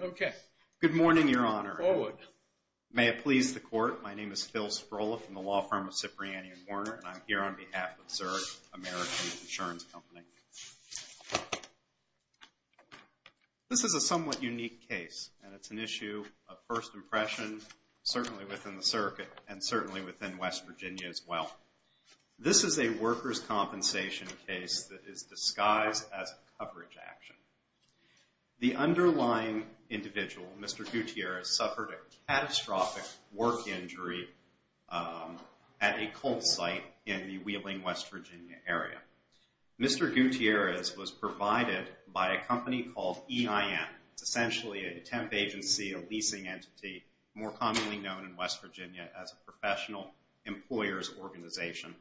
Okay. Good morning, Your Honor. Forward. May it please the Court. My name is Phil Spirola from the law firm of Cipriani & Warner, and I'm here on behalf of Zurich American Insurance Company. This is a somewhat unique case, and it's an issue of first impression, certainly within the circuit, and certainly within West Virginia as well. This is a workers' compensation case that is disguised as a coverage action. The underlying individual, Mr. Gutierrez, suffered a catastrophic work injury at a coal site in the Wheeling, West Virginia area. Mr. Gutierrez was provided by a company called EIN. It's essentially a temp agency, a leasing entity, more commonly known in West Virginia as a professional employer's organization.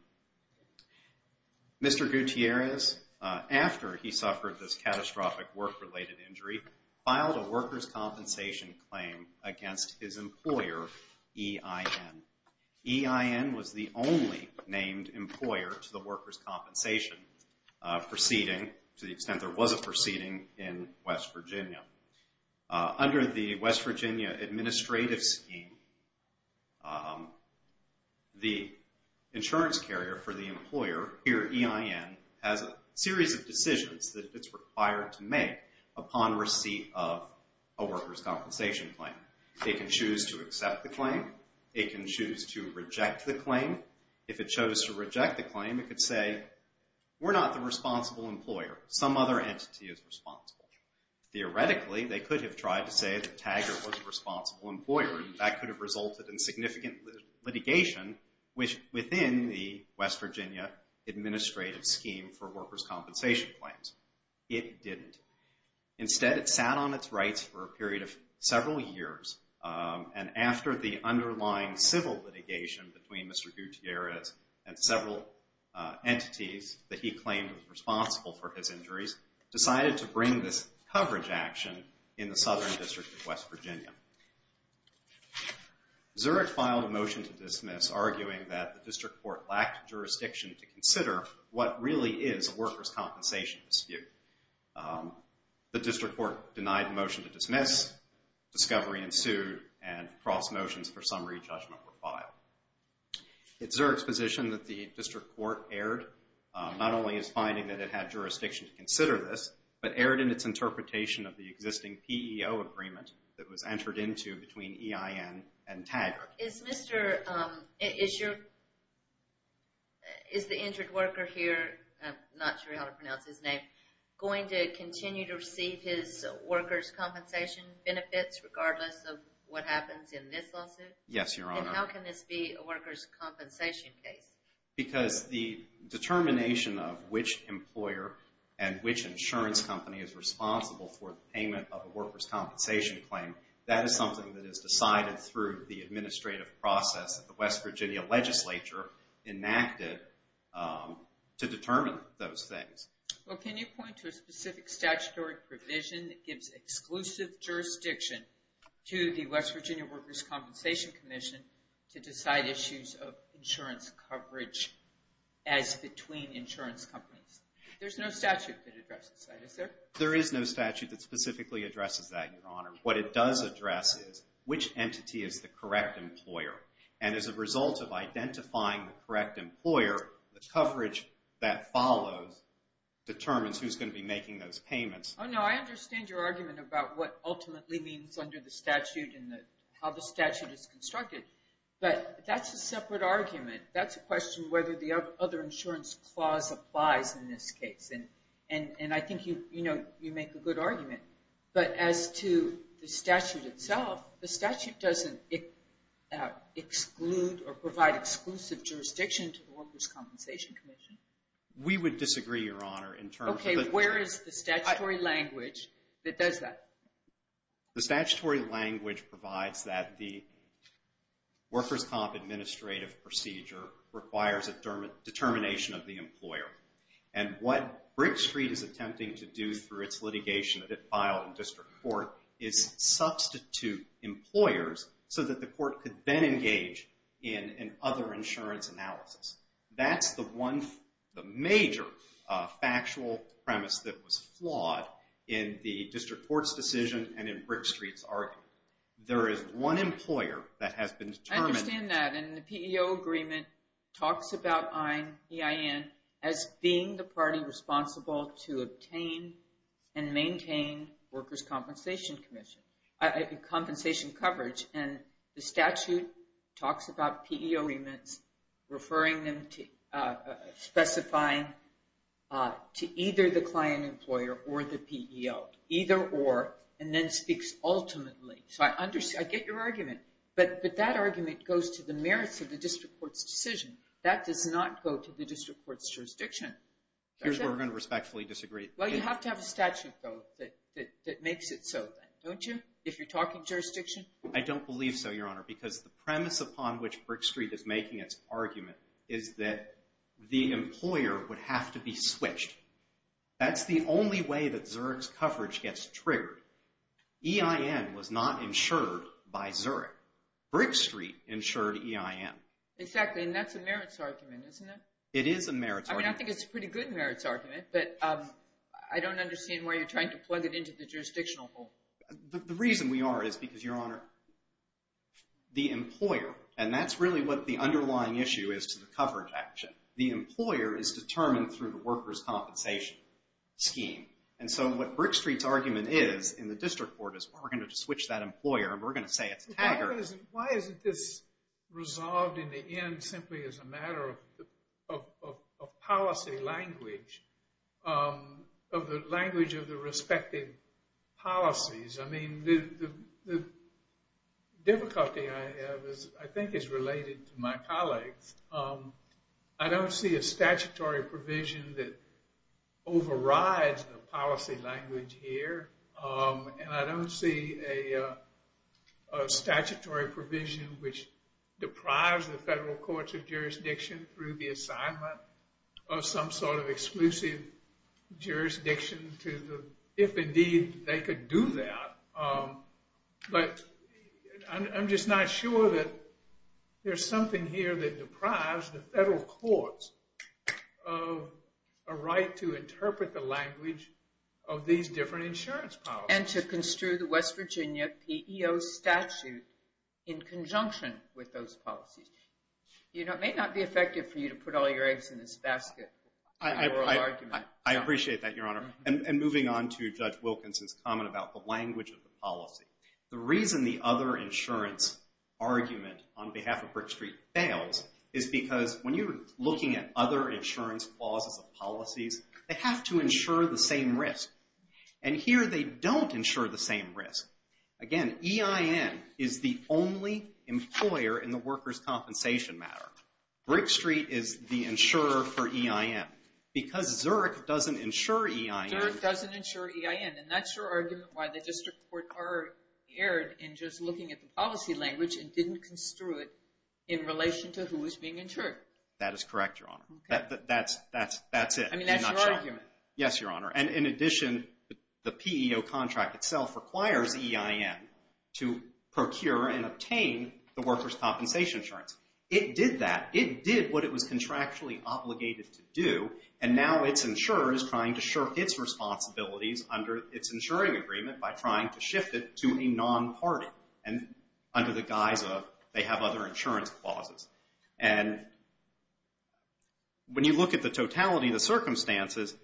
Mr. Gutierrez, after he suffered this catastrophic work-related injury, filed a workers' compensation claim against his employer, EIN. EIN was the only named employer to the workers' compensation proceeding, to the extent there was a proceeding, in West Virginia. Under the West Virginia administrative scheme, the insurance carrier for the employer, here EIN, has a series of decisions that it's required to make upon receipt of a workers' compensation claim. It can choose to accept the claim. It can choose to reject the claim. If it chose to reject the claim, it could say, we're not the responsible employer. Some other entity is responsible. Theoretically, they could have tried to say that Taggert was the responsible employer. That could have resulted in significant litigation within the West Virginia administrative scheme for workers' compensation claims. It didn't. Instead, it sat on its rights for a period of several years, and after the underlying civil litigation between Mr. Gutierrez and several entities that he claimed were responsible for his injuries, decided to bring this coverage action in the Southern District of West Virginia. Zurich filed a motion to dismiss, arguing that the district court lacked jurisdiction to consider what really is a workers' compensation dispute. The district court denied the motion to dismiss. Discovery ensued, and cross motions for summary judgment were filed. It's Zurich's position that the district court erred, not only as finding that it had jurisdiction to consider this, but erred in its interpretation of the existing PEO agreement that was entered into between EIN and Taggert. Is Mr., is your, is the injured worker here, I'm not sure how to pronounce his name, going to continue to receive his workers' compensation benefits regardless of what happens in this lawsuit? Yes, Your Honor. And how can this be a workers' compensation case? Because the determination of which employer and which insurance company is responsible for the payment of a workers' compensation claim, that is something that is decided through the administrative process that the West Virginia legislature enacted to determine those things. Well, can you point to a specific statutory provision that gives exclusive jurisdiction to the West Virginia Workers' Compensation Commission to decide issues of insurance coverage as between insurance companies? There's no statute that addresses that, is there? There is no statute that specifically addresses that, Your Honor. What it does address is which entity is the correct employer. And as a result of identifying the correct employer, the coverage that follows determines who's going to be making those payments. Oh, no, I understand your argument about what ultimately means under the statute and how the statute is constructed. But that's a separate argument. That's a question whether the other insurance clause applies in this case. And I think, you know, you make a good argument. But as to the statute itself, the statute doesn't exclude or provide exclusive jurisdiction to the Workers' Compensation Commission. We would disagree, Your Honor, in terms of the Where is the statutory language that does that? The statutory language provides that the Workers' Comp administrative procedure requires a determination of the employer. And what Brick Street is attempting to do through its litigation that it filed in district court is substitute employers so that the court could then engage in other insurance analysis. That's the major factual premise that was flawed in the district court's decision and in Brick Street's argument. There is one employer that has been determined. I understand that. And the PEO agreement talks about EIN as being the party responsible to obtain and maintain Workers' Compensation Commission, compensation coverage. And the statute talks about PEO agreements, referring them to specifying to either the client employer or the PEO, either or, and then speaks ultimately. So I get your argument. But that argument goes to the merits of the district court's decision. That does not go to the district court's jurisdiction. Here's where we're going to respectfully disagree. Well, you have to have a statute, though, that makes it so, don't you, if you're talking jurisdiction? I don't believe so, Your Honor, because the premise upon which Brick Street is making its argument is that the employer would have to be switched. That's the only way that Zurich's coverage gets triggered. EIN was not insured by Zurich. Brick Street insured EIN. Exactly, and that's a merits argument, isn't it? It is a merits argument. I mean, I think it's a pretty good merits argument, but I don't understand why you're trying to plug it into the jurisdictional hole. The reason we are is because, Your Honor, the employer, and that's really what the underlying issue is to the coverage action. The employer is determined through the workers' compensation scheme. And so what Brick Street's argument is in the district court is we're going to switch that employer and we're going to say it's TAGR. Why isn't this resolved in the end simply as a matter of policy language, of the language of the respective policies? I mean, the difficulty I have I think is related to my colleagues. I don't see a statutory provision that overrides the policy language here, and I don't see a statutory provision which deprives the federal courts of jurisdiction through the assignment of some sort of exclusive jurisdiction if indeed they could do that. But I'm just not sure that there's something here that deprives the federal courts of a right to interpret the language of these different insurance policies. And to construe the West Virginia PEO statute in conjunction with those policies. You know, it may not be effective for you to put all your eggs in this basket. I appreciate that, Your Honor. And moving on to Judge Wilkinson's comment about the language of the policy. The reason the other insurance argument on behalf of Brick Street fails is because when you're looking at other insurance clauses of policies, they have to insure the same risk. And here they don't insure the same risk. Again, EIN is the only employer in the workers' compensation matter. Brick Street is the insurer for EIN. Because Zurich doesn't insure EIN. Zurich doesn't insure EIN, and that's your argument why the district court erred in just looking at the policy language and didn't construe it in relation to who is being insured. That is correct, Your Honor. Okay. That's it. I mean, that's your argument. Yes, Your Honor. And in addition, the PEO contract itself requires EIN to procure and obtain the workers' compensation insurance. It did that. It did what it was contractually obligated to do, and now its insurer is trying to shirk its responsibilities under its insuring agreement by trying to shift it to a non-party under the guise of they have other insurance clauses. And when you look at the totality of the circumstances,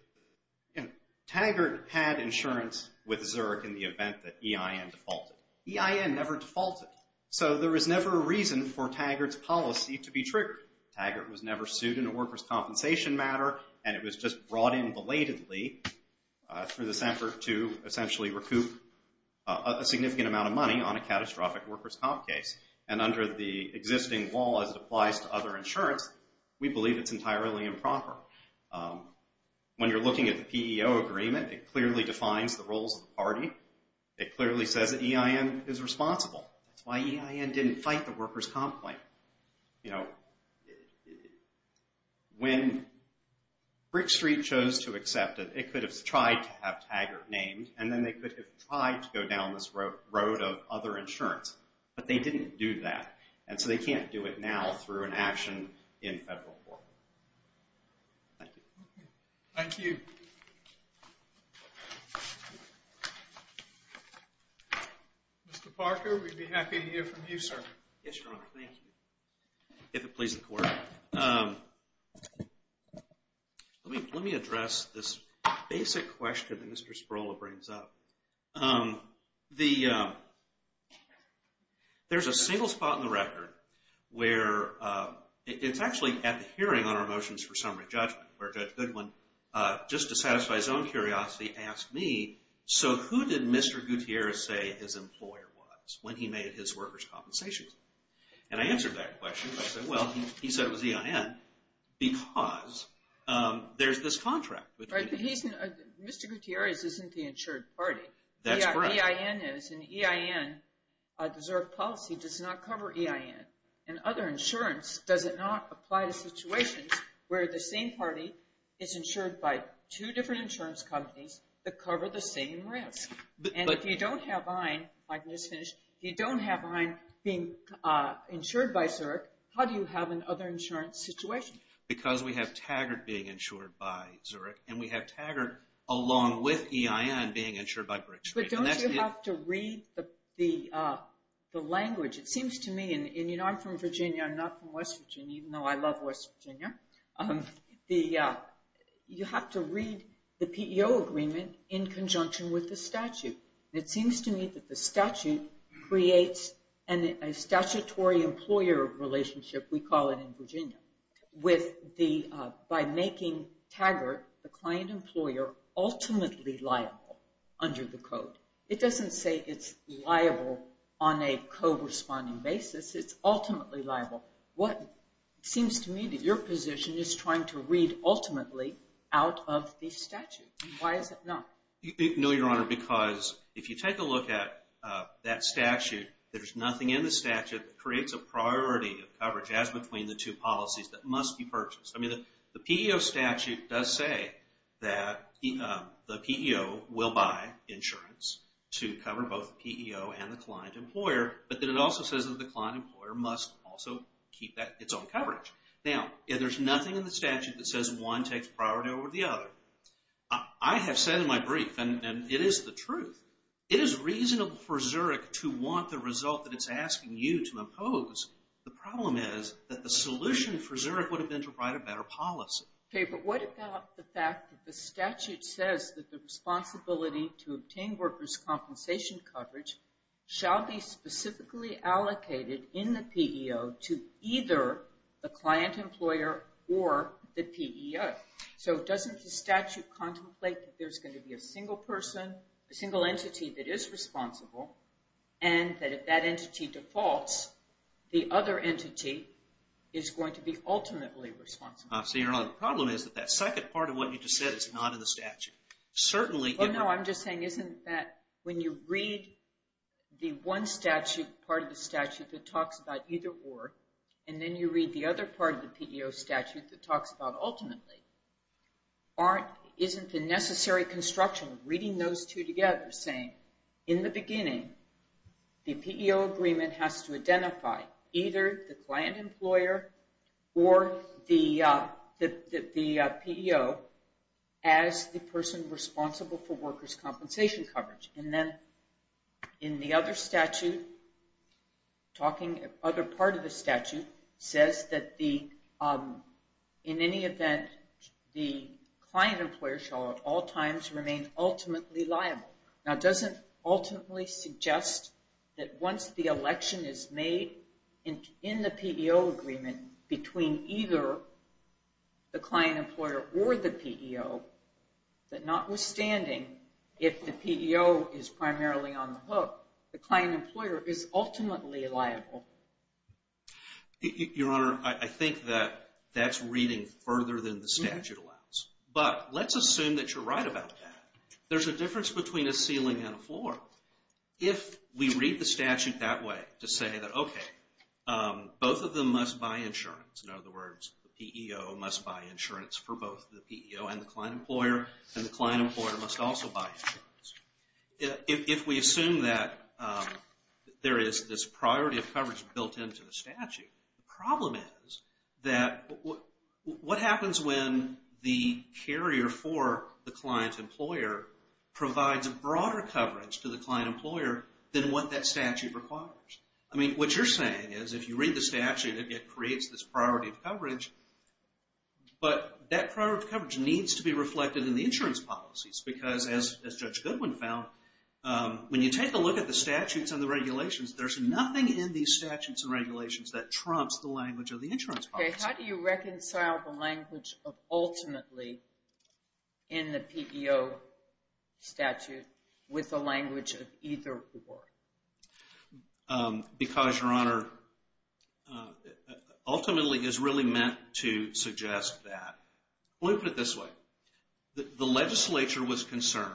Taggart had insurance with Zurich in the event that EIN defaulted. EIN never defaulted. So there was never a reason for Taggart's policy to be triggered. Taggart was never sued in a workers' compensation matter, and it was just brought in belatedly through this effort to essentially recoup a significant amount of money on a catastrophic workers' comp case. And under the existing law, as it applies to other insurance, we believe it's entirely improper. When you're looking at the PEO agreement, it clearly defines the roles of the party. It clearly says that EIN is responsible. That's why EIN didn't fight the workers' complaint. You know, when Brick Street chose to accept it, it could have tried to have Taggart named, and then they could have tried to go down this road of other insurance. But they didn't do that, and so they can't do it now through an action in federal court. Thank you. Thank you. Mr. Parker, we'd be happy to hear from you, sir. Yes, Your Honor, thank you. If it pleases the Court. Let me address this basic question that Mr. Sperola brings up. There's a single spot in the record where it's actually at the hearing on our motions for summary judgment where Judge Goodwin, just to satisfy his own curiosity, asked me, so who did Mr. Gutierrez say his employer was when he made his workers' compensations? And I answered that question. I said, well, he said it was EIN because there's this contract. Mr. Gutierrez isn't the insured party. That's correct. EIN is, and EIN, a deserved policy, does not cover EIN. And other insurance, does it not apply to situations where the same party is insured by two different insurance companies that cover the same risk? And if you don't have EIN, if you don't have EIN being insured by Zurich, how do you have an other insurance situation? Because we have Taggart being insured by Zurich, and we have Taggart along with EIN being insured by Brick Street. But don't you have to read the language? It seems to me, and I'm from Virginia, I'm not from West Virginia, even though I love West Virginia, you have to read the PEO agreement in conjunction with the statute. It seems to me that the statute creates a statutory employer relationship, we call it in Virginia, by making Taggart, the client employer, ultimately liable under the code. It doesn't say it's liable on a co-responding basis. It's ultimately liable. It seems to me that your position is trying to read ultimately out of the statute. Why is it not? No, Your Honor, because if you take a look at that statute, there's nothing in the statute that creates a priority of coverage as between the two policies that must be purchased. The PEO statute does say that the PEO will buy insurance to cover both the PEO and the client employer, but then it also says that the client employer must also keep its own coverage. Now, there's nothing in the statute that says one takes priority over the other. I have said in my brief, and it is the truth, it is reasonable for Zurich to want the result that it's asking you to impose. The problem is that the solution for Zurich would have been to write a better policy. Okay, but what about the fact that the statute says that the responsibility to obtain workers' compensation coverage shall be specifically allocated in the PEO to either the client employer or the PEO? So doesn't the statute contemplate that there's going to be a single person, a single entity that is responsible, and that if that entity defaults, the other entity is going to be ultimately responsible? So your only problem is that that second part of what you just said is not in the statute. Well, no, I'm just saying isn't that when you read the one part of the statute that talks about either or, and then you read the other part of the PEO statute that talks about ultimately, isn't the necessary construction of reading those two together, saying in the beginning, the PEO agreement has to identify either the client employer or the PEO as the person responsible for workers' compensation coverage. And then in the other statute, talking other part of the statute, says that in any event, the client employer shall at all times remain ultimately liable. Now, doesn't ultimately suggest that once the election is made in the PEO agreement between either the client employer or the PEO, that notwithstanding, if the PEO is primarily on the hook, the client employer is ultimately liable? Your Honor, I think that that's reading further than the statute allows. But let's assume that you're right about that. There's a difference between a ceiling and a floor. If we read the statute that way to say that, okay, both of them must buy insurance, in other words, the PEO must buy insurance for both the PEO and the client employer, and the client employer must also buy insurance. If we assume that there is this priority of coverage built into the statute, the problem is that what happens when the carrier for the client employer provides a broader coverage to the client employer than what that statute requires? I mean, what you're saying is if you read the statute, it creates this priority of coverage, but that priority of coverage needs to be reflected in the insurance policies because as Judge Goodwin found, when you take a look at the statutes and the regulations, there's nothing in these statutes and regulations that trumps the language of the insurance policy. Okay, how do you reconcile the language of ultimately in the PEO statute with the language of either or? Because, Your Honor, ultimately is really meant to suggest that. Let me put it this way. The legislature was concerned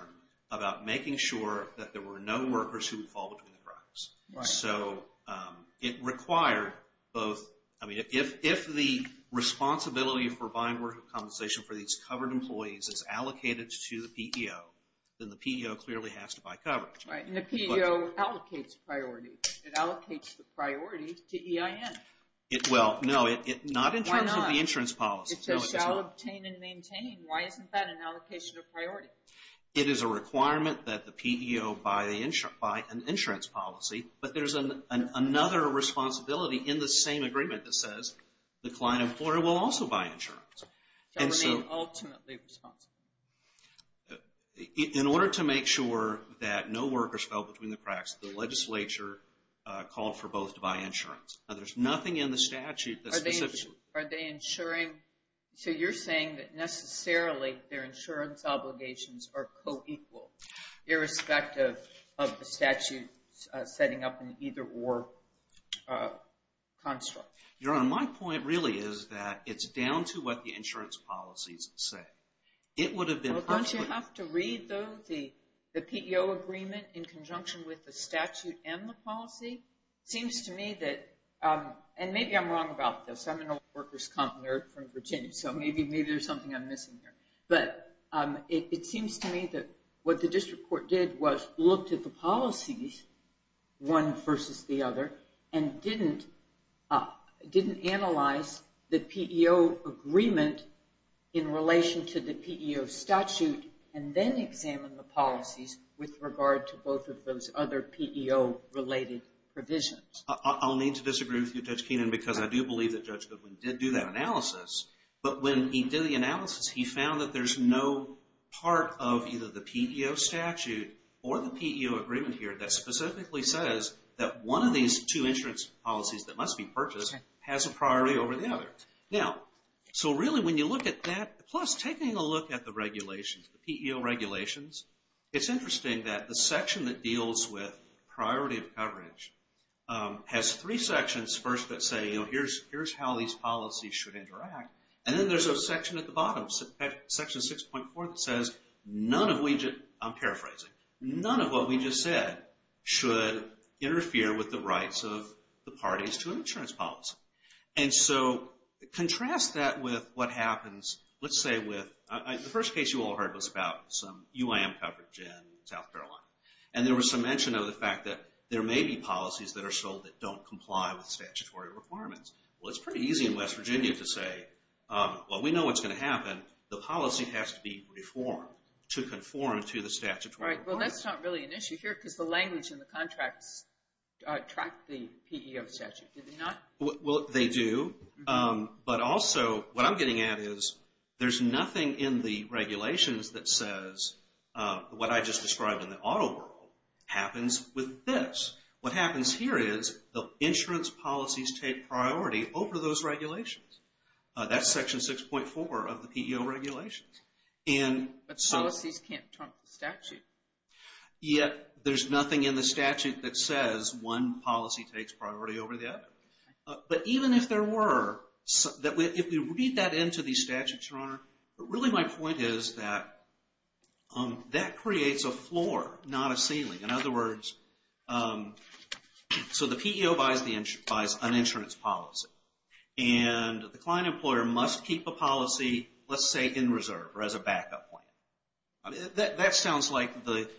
about making sure that there were no workers who would fall between the cracks. So it required both, I mean, if the responsibility for buying work compensation for these covered employees is allocated to the PEO, then the PEO clearly has to buy coverage. Right, and the PEO allocates priority. It allocates the priority to EIN. Well, no, not in terms of the insurance policy. It says, shall obtain and maintain. Why isn't that an allocation of priority? It is a requirement that the PEO buy an insurance policy, but there's another responsibility in the same agreement that says, the client employer will also buy insurance. So remain ultimately responsible. In order to make sure that no workers fell between the cracks, the legislature called for both to buy insurance. Now, there's nothing in the statute that specifically Are they insuring? So you're saying that necessarily their insurance obligations are co-equal, irrespective of the statute setting up an either-or construct. Your Honor, my point really is that it's down to what the insurance policies say. It would have been... Don't you have to read, though, the PEO agreement in conjunction with the statute and the policy? It seems to me that... And maybe I'm wrong about this. I'm an old workers' comp nerd from Virginia, so maybe there's something I'm missing here. But it seems to me that what the district court did was looked at the policies, one versus the other, and didn't analyze the PEO agreement in relation to the PEO statute and then examined the policies with regard to both of those other PEO-related provisions. I'll need to disagree with you, Judge Keenan, because I do believe that Judge Goodwin did do that analysis. But when he did the analysis, he found that there's no part of either the PEO statute or the PEO agreement here that specifically says that one of these two insurance policies that must be purchased has a priority over the other. Now, so really when you look at that, plus taking a look at the regulations, the PEO regulations, it's interesting that the section that deals with priority of coverage has three sections first that say, here's how these policies should interact, and then there's a section at the bottom, section 6.4, that says none of what we just said should interfere with the rights of the parties to an insurance policy. And so contrast that with what happens... The first case you all heard was about some UIM coverage in South Carolina. And there was some mention of the fact that there may be policies that are sold that don't comply with statutory requirements. Well, it's pretty easy in West Virginia to say, well, we know what's going to happen. The policy has to be reformed to conform to the statutory requirements. All right, well, that's not really an issue here because the language in the contracts track the PEO statute, do they not? Well, they do. But also what I'm getting at is there's nothing in the regulations that says what I just described in the auto world happens with this. What happens here is the insurance policies take priority over those regulations. That's section 6.4 of the PEO regulations. But policies can't trump the statute. Yet there's nothing in the statute that says one policy takes priority over the other. But even if there were, if we read that into the statute, Your Honor, but really my point is that that creates a floor, not a ceiling. In other words, so the PEO buys an insurance policy. And the client employer must keep a policy, let's say, in reserve or as a backup plan. That sounds like the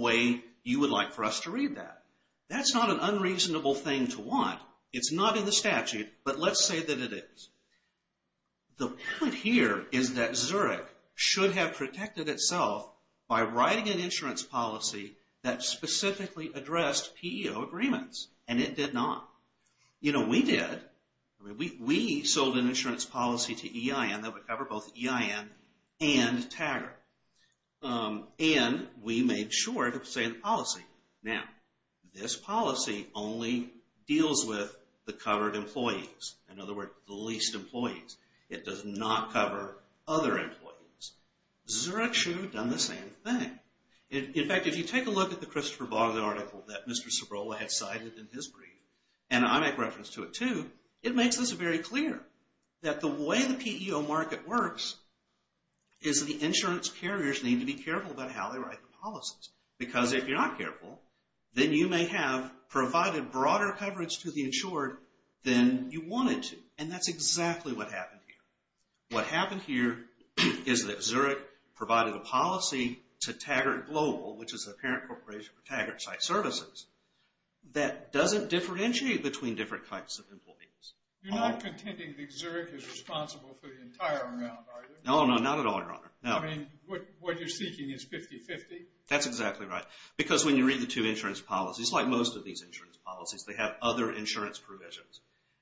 way you would like for us to read that. That's not an unreasonable thing to want. It's not in the statute, but let's say that it is. The point here is that Zurich should have protected itself by writing an insurance policy that specifically addressed PEO agreements. And it did not. You know, we did. We sold an insurance policy to EIN that would cover both EIN and TAGR. And we made sure to say the policy. Now, this policy only deals with the covered employees. In other words, the least employees. It does not cover other employees. Zurich should have done the same thing. In fact, if you take a look at the Christopher Bogdan article that Mr. Cibrola had cited in his brief, and I make reference to it too, it makes this very clear that the way the PEO market works is the insurance carriers need to be careful about how they write the policies. Because if you're not careful, then you may have provided broader coverage to the insured than you wanted to. And that's exactly what happened here. What happened here is that Zurich provided a policy to TAGR Global, which is a parent corporation for TAGR site services, that doesn't differentiate between different types of employees. You're not contending that Zurich is responsible for the entire round, are you? No, no, not at all, Your Honor. I mean, what you're seeking is 50-50? That's exactly right. Because when you read the two insurance policies, like most of these insurance policies, they have other insurance provisions,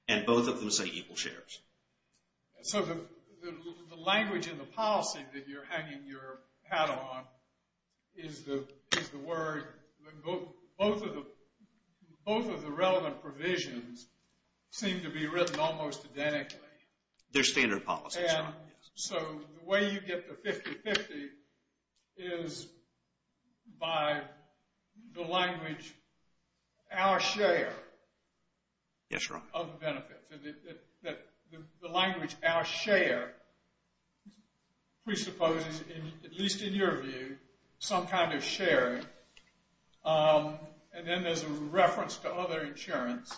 and both of them say equal shares. So the language in the policy that you're hanging your hat on is the word that both of the relevant provisions seem to be written almost identically. They're standard policies, Your Honor. So the way you get the 50-50 is by the language, our share of the benefits. The language, our share, presupposes, at least in your view, some kind of sharing. And then there's a reference to other insurance.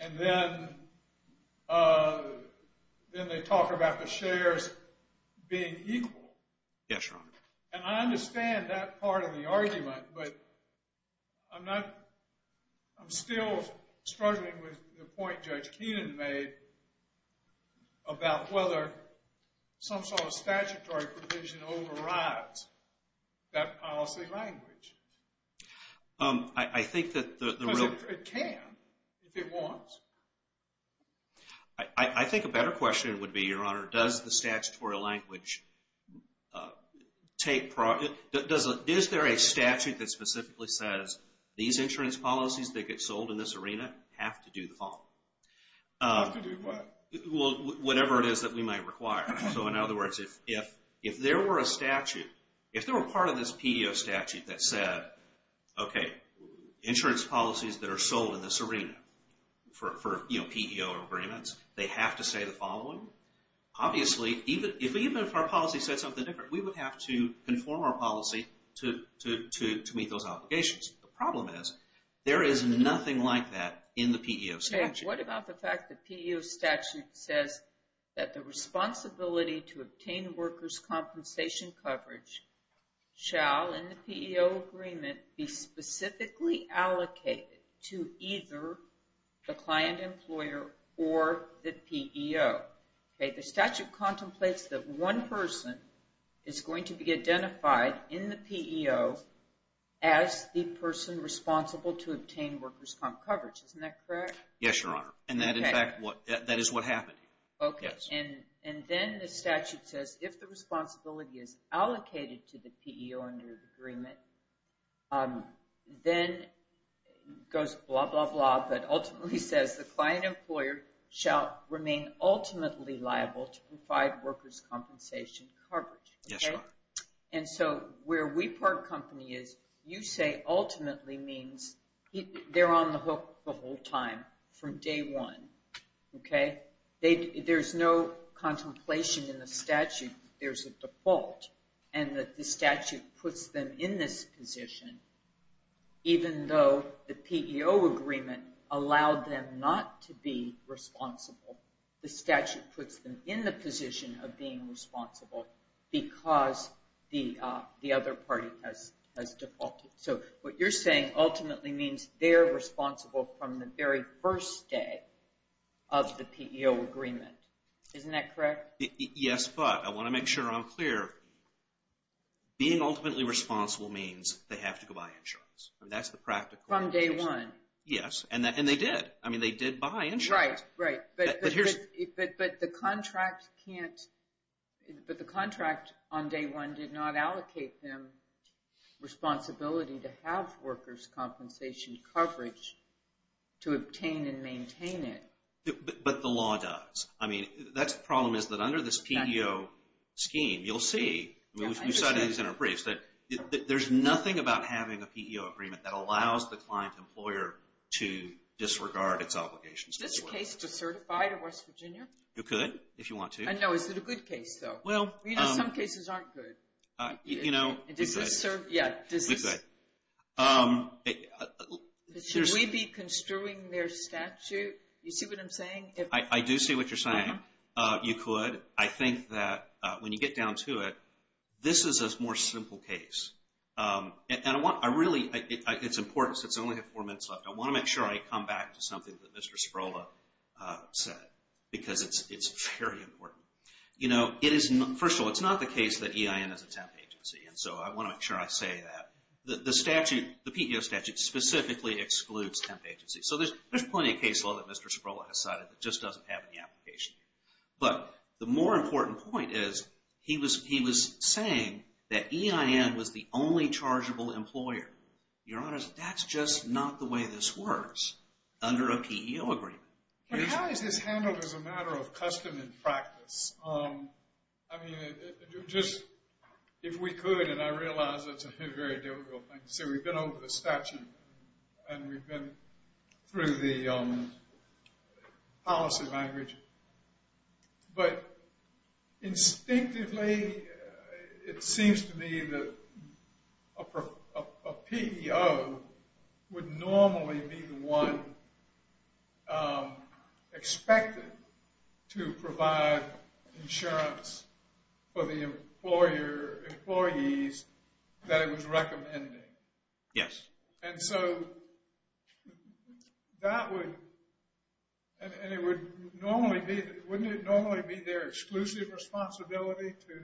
And then they talk about the shares being equal. Yes, Your Honor. And I understand that part of the argument, but I'm still struggling with the point Judge Keenan made about whether some sort of statutory provision overrides that policy language. I think that the real... Because it can, if it wants. I think a better question would be, Your Honor, does the statutory language take... Is there a statute that specifically says, these insurance policies that get sold in this arena have to do the following? Have to do what? Well, whatever it is that we might require. So in other words, if there were a statute, if there were part of this PEO statute that said, okay, insurance policies that are sold in this arena for PEO agreements, they have to say the following? Obviously, even if our policy said something different, we would have to conform our policy to meet those obligations. The problem is, there is nothing like that in the PEO statute. What about the fact the PEO statute says that the responsibility to obtain workers' compensation coverage shall, in the PEO agreement, be specifically allocated to either the client employer or the PEO? The statute contemplates that one person is going to be identified in the PEO as the person responsible to obtain workers' comp coverage. Isn't that correct? Yes, Your Honor. And that is what happened. Okay, and then the statute says if the responsibility is allocated to the PEO under the agreement, then it goes blah, blah, blah, but ultimately says the client employer shall remain ultimately liable to provide workers' compensation coverage. Yes, Your Honor. And so where we part company is, you say ultimately means they're on the hook the whole time from day one. There's no contemplation in the statute that there's a default and that the statute puts them in this position, even though the PEO agreement allowed them not to be responsible. The statute puts them in the position of being responsible because the other party has defaulted. So what you're saying ultimately means they're responsible from the very first day of the PEO agreement. Isn't that correct? Yes, but I want to make sure I'm clear. Being ultimately responsible means they have to go buy insurance. That's the practical explanation. From day one. Yes, and they did. I mean, they did buy insurance. Right, right. But the contract on day one did not allocate them responsibility to have workers' compensation coverage to obtain and maintain it. But the law does. I mean, the problem is that under this PEO scheme, you'll see, and we've cited these in our briefs, that there's nothing about having a PEO agreement that allows the client employer to disregard its obligations. Is this case to certify to West Virginia? You could, if you want to. I know. Is it a good case, though? Well, you know, some cases aren't good. You know, we could. Yeah, we could. Should we be construing their statute? You see what I'm saying? I do see what you're saying. You could. I think that when you get down to it, this is a more simple case. And I really, it's important since I only have four minutes left, I want to make sure I come back to something that Mr. Spirola said because it's very important. You know, first of all, it's not the case that EIN is a temp agency, and so I want to make sure I say that. The statute, the PEO statute, specifically excludes temp agencies. So there's plenty of case law that Mr. Spirola has cited that just doesn't have any application. But the more important point is he was saying that EIN was the only chargeable employer. Your Honor, that's just not the way this works under a PEO agreement. But how is this handled as a matter of custom and practice? I mean, just if we could, and I realize that's a very difficult thing to say. We've been over the statute, and we've been through the policy language. But instinctively, it seems to me that a PEO would normally be the one expected to provide insurance for the employees that it was recommending. Yes. And so that would, and it would normally be, wouldn't it normally be their exclusive responsibility to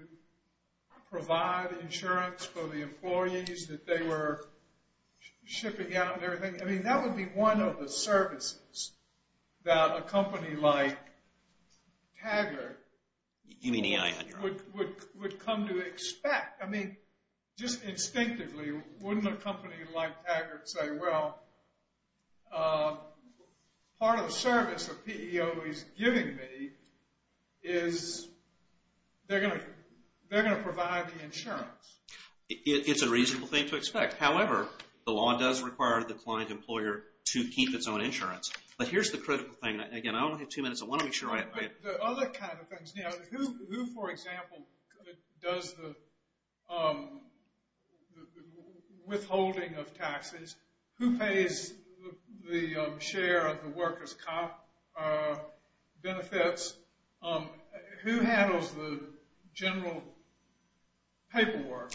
provide insurance for the employees that they were shipping out and everything? I mean, that would be one of the services that a company like Taggert would come to expect. I mean, just instinctively, wouldn't a company like Taggert say, well, part of the service a PEO is giving me is they're going to provide the insurance? It's a reasonable thing to expect. However, the law does require the client employer to keep its own insurance. But here's the critical thing. Again, I only have two minutes. I want to make sure I have time. The other kind of things. Who, for example, does the withholding of taxes? Who pays the share of the workers' comp benefits? Who handles the general paperwork,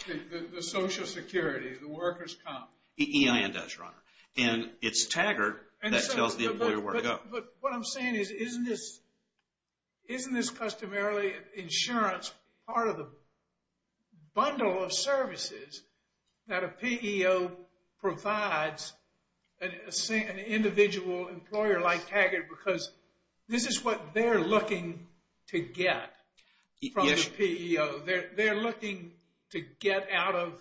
the Social Security, the workers' comp? EIN does, Your Honor. And it's Taggert that tells the employer where to go. But what I'm saying is, isn't this customarily insurance part of the bundle of services that a PEO provides an individual employer like Taggert? Because this is what they're looking to get from the PEO. They're looking to get out of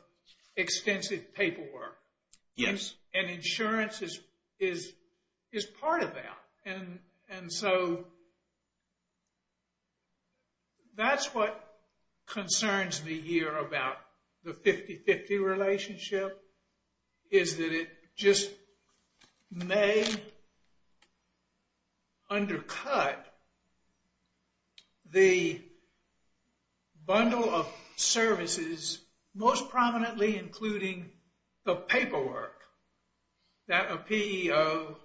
extensive paperwork. Yes. And insurance is part of that. And so that's what concerns me here about the 50-50 relationship is that it just may undercut the bundle of services, most prominently including the paperwork that a PEO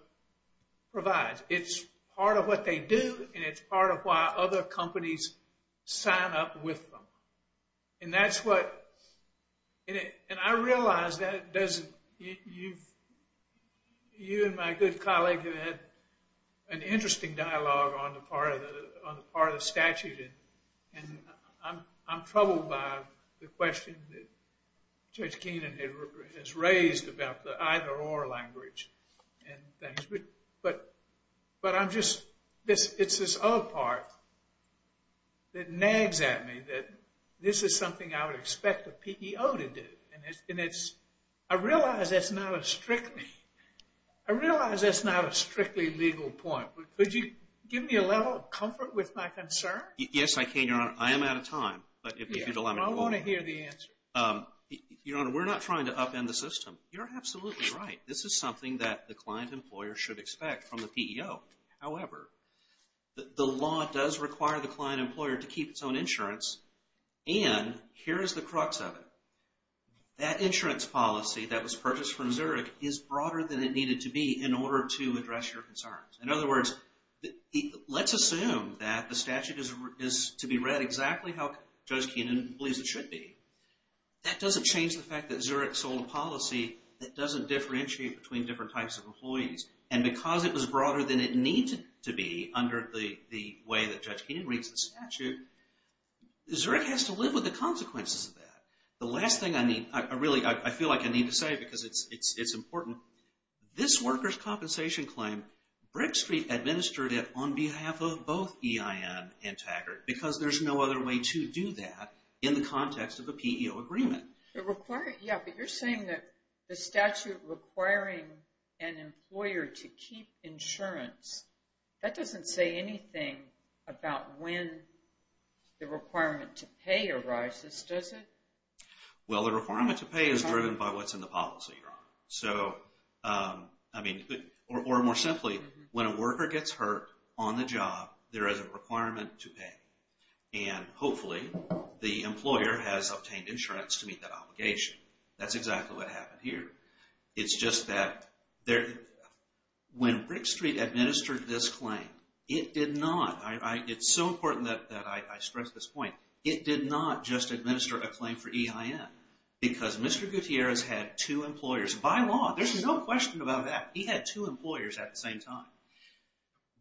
provides. It's part of what they do, and it's part of why other companies sign up with them. And that's what – and I realize that doesn't – you and my good colleague have had an interesting dialogue on the part of the statute, and I'm troubled by the question that Judge Keenan has raised about the either-or language and things. But I'm just – it's this other part that nags at me that this is something I would expect a PEO to do. And it's – I realize that's not a strictly – I realize that's not a strictly legal point, but could you give me a level of comfort with my concern? Yes, I can, Your Honor. I am out of time, but if you'd allow me to go on. I want to hear the answer. Your Honor, we're not trying to upend the system. You're absolutely right. This is something that the client-employer should expect from the PEO. However, the law does require the client-employer to keep its own insurance, and here is the crux of it. That insurance policy that was purchased from Zurich is broader than it needed to be in order to address your concerns. In other words, let's assume that the statute is to be read exactly how Judge Keenan believes it should be. That doesn't change the fact that Zurich sold a policy that doesn't differentiate between different types of employees. And because it was broader than it needed to be under the way that Judge Keenan reads the statute, Zurich has to live with the consequences of that. The last thing I need – I really – I feel like I need to say because it's important. This worker's compensation claim, Brick Street administered it on behalf of both EIN and Taggart because there's no other way to do that in the context of a PEO agreement. It requires – yeah, but you're saying that the statute requiring an employer to keep insurance, that doesn't say anything about when the requirement to pay arises, does it? Well, the requirement to pay is driven by what's in the policy, Your Honor. So, I mean, or more simply, when a worker gets hurt on the job, there is a requirement to pay. And hopefully, the employer has obtained insurance to meet that obligation. That's exactly what happened here. It's just that when Brick Street administered this claim, it did not – it's so important that I stress this point – it did not just administer a claim for EIN because Mr. Gutierrez had two employers. By law, there's no question about that. He had two employers at the same time.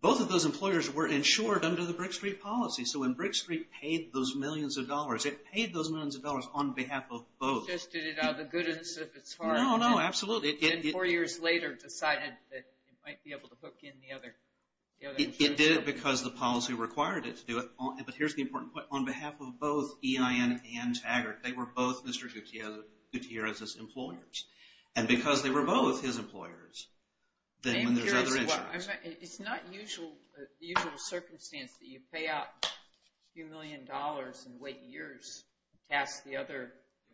Both of those employers were insured under the Brick Street policy. So when Brick Street paid those millions of dollars, it paid those millions of dollars on behalf of both. Just did it out of the goodness of its heart. No, no, absolutely. And four years later, decided that it might be able to book in the other insurer. It did it because the policy required it to do it. But here's the important point. On behalf of both EIN and Taggart, they were both Mr. Gutierrez's employers. And because they were both his employers, then there's other insurance. It's not the usual circumstance that you pay out a few million dollars and wait years to ask the other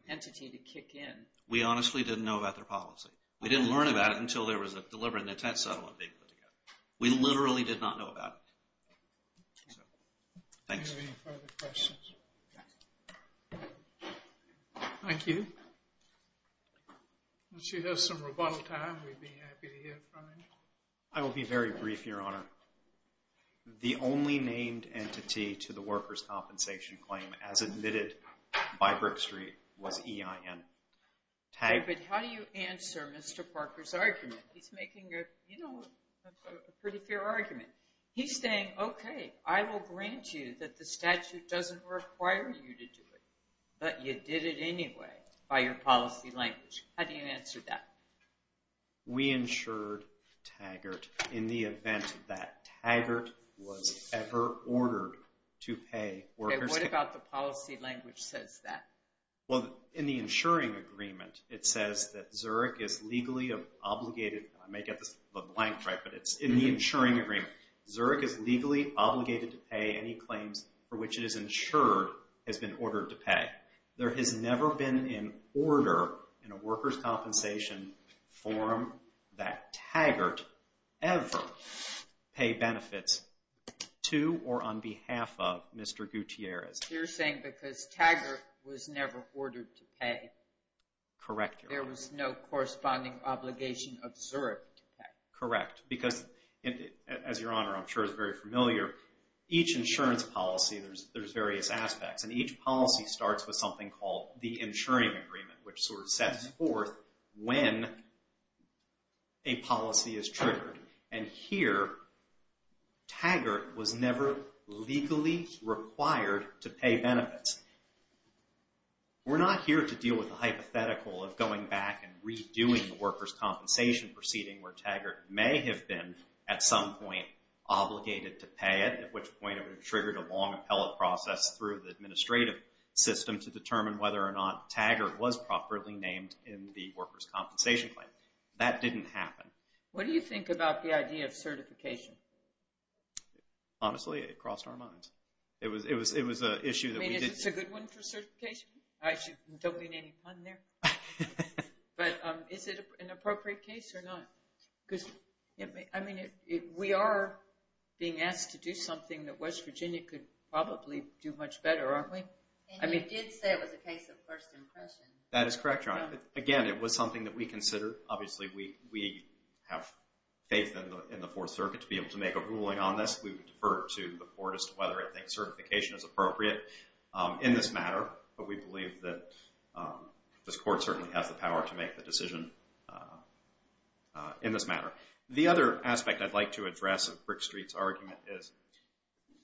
entity to kick in. We honestly didn't know about their policy. We didn't learn about it until there was a deliberate intent settlement being put together. We literally did not know about it. Do you have any further questions? Thank you. Once you have some rebuttal time, we'd be happy to hear from you. I will be very brief, Your Honor. The only named entity to the workers' compensation claim as admitted by Brick Street was EIN. But how do you answer Mr. Parker's argument? He's making a pretty fair argument. He's saying, okay, I will grant you that the statute doesn't require you to do it, but you did it anyway by your policy language. How do you answer that? We insured Taggart in the event that Taggart was ever ordered to pay workers' compensation. Okay, what about the policy language says that? Well, in the insuring agreement, it says that Zurich is legally obligated. I may get the blank right, but it's in the insuring agreement. Zurich is legally obligated to pay any claims for which it is insured has been ordered to pay. There has never been an order in a workers' compensation forum that Taggart ever pay benefits to or on behalf of Mr. Gutierrez. You're saying because Taggart was never ordered to pay. Correct, Your Honor. There was no corresponding obligation of Zurich to pay. Correct. Because, as Your Honor, I'm sure is very familiar, each insurance policy, there's various aspects. And each policy starts with something called the insuring agreement, which sort of sets forth when a policy is triggered. And here, Taggart was never legally required to pay benefits. We're not here to deal with a hypothetical of going back and redoing the workers' compensation proceeding where Taggart may have been, at some point, obligated to pay it, at which point it would have triggered a long appellate process through the administrative system to determine whether or not Taggart was properly named in the workers' compensation claim. That didn't happen. What do you think about the idea of certification? Honestly, it crossed our minds. I mean, is this a good one for certification? I don't mean any pun there. But is it an appropriate case or not? Because, I mean, we are being asked to do something that West Virginia could probably do much better, aren't we? And you did say it was a case of first impression. That is correct, Your Honor. Again, it was something that we considered. Obviously, we have faith in the Fourth Circuit to be able to make a ruling on this. We would defer to the court as to whether I think certification is appropriate in this matter. But we believe that this court certainly has the power to make the decision in this matter. The other aspect I'd like to address of Brick Street's argument is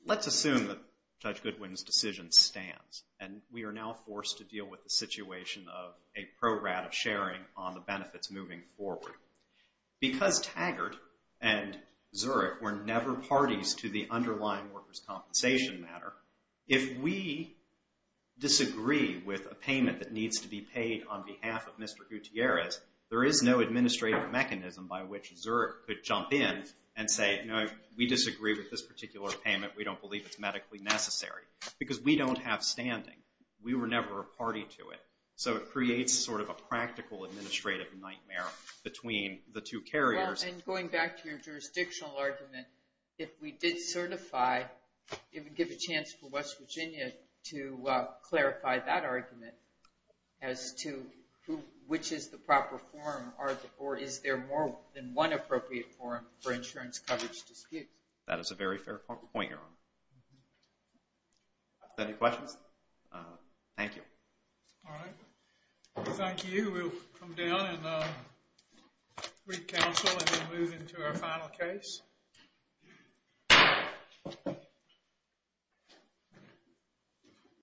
let's assume that Judge Goodwin's decision stands, and we are now forced to deal with the situation of a pro-rat of sharing on the benefits moving forward. Because Taggart and Zurich were never parties to the underlying workers' compensation matter, if we disagree with a payment that needs to be paid on behalf of Mr. Gutierrez, there is no administrative mechanism by which Zurich could jump in and say, you know, we disagree with this particular payment. We don't believe it's medically necessary because we don't have standing. We were never a party to it. So it creates sort of a practical administrative nightmare between the two carriers. Well, and going back to your jurisdictional argument, if we did certify, it would give a chance for West Virginia to clarify that argument as to which is the proper form, or is there more than one appropriate form for insurance coverage disputes? Are there any questions? Thank you. All right. Thank you. We'll come down and re-counsel and then move into our final case.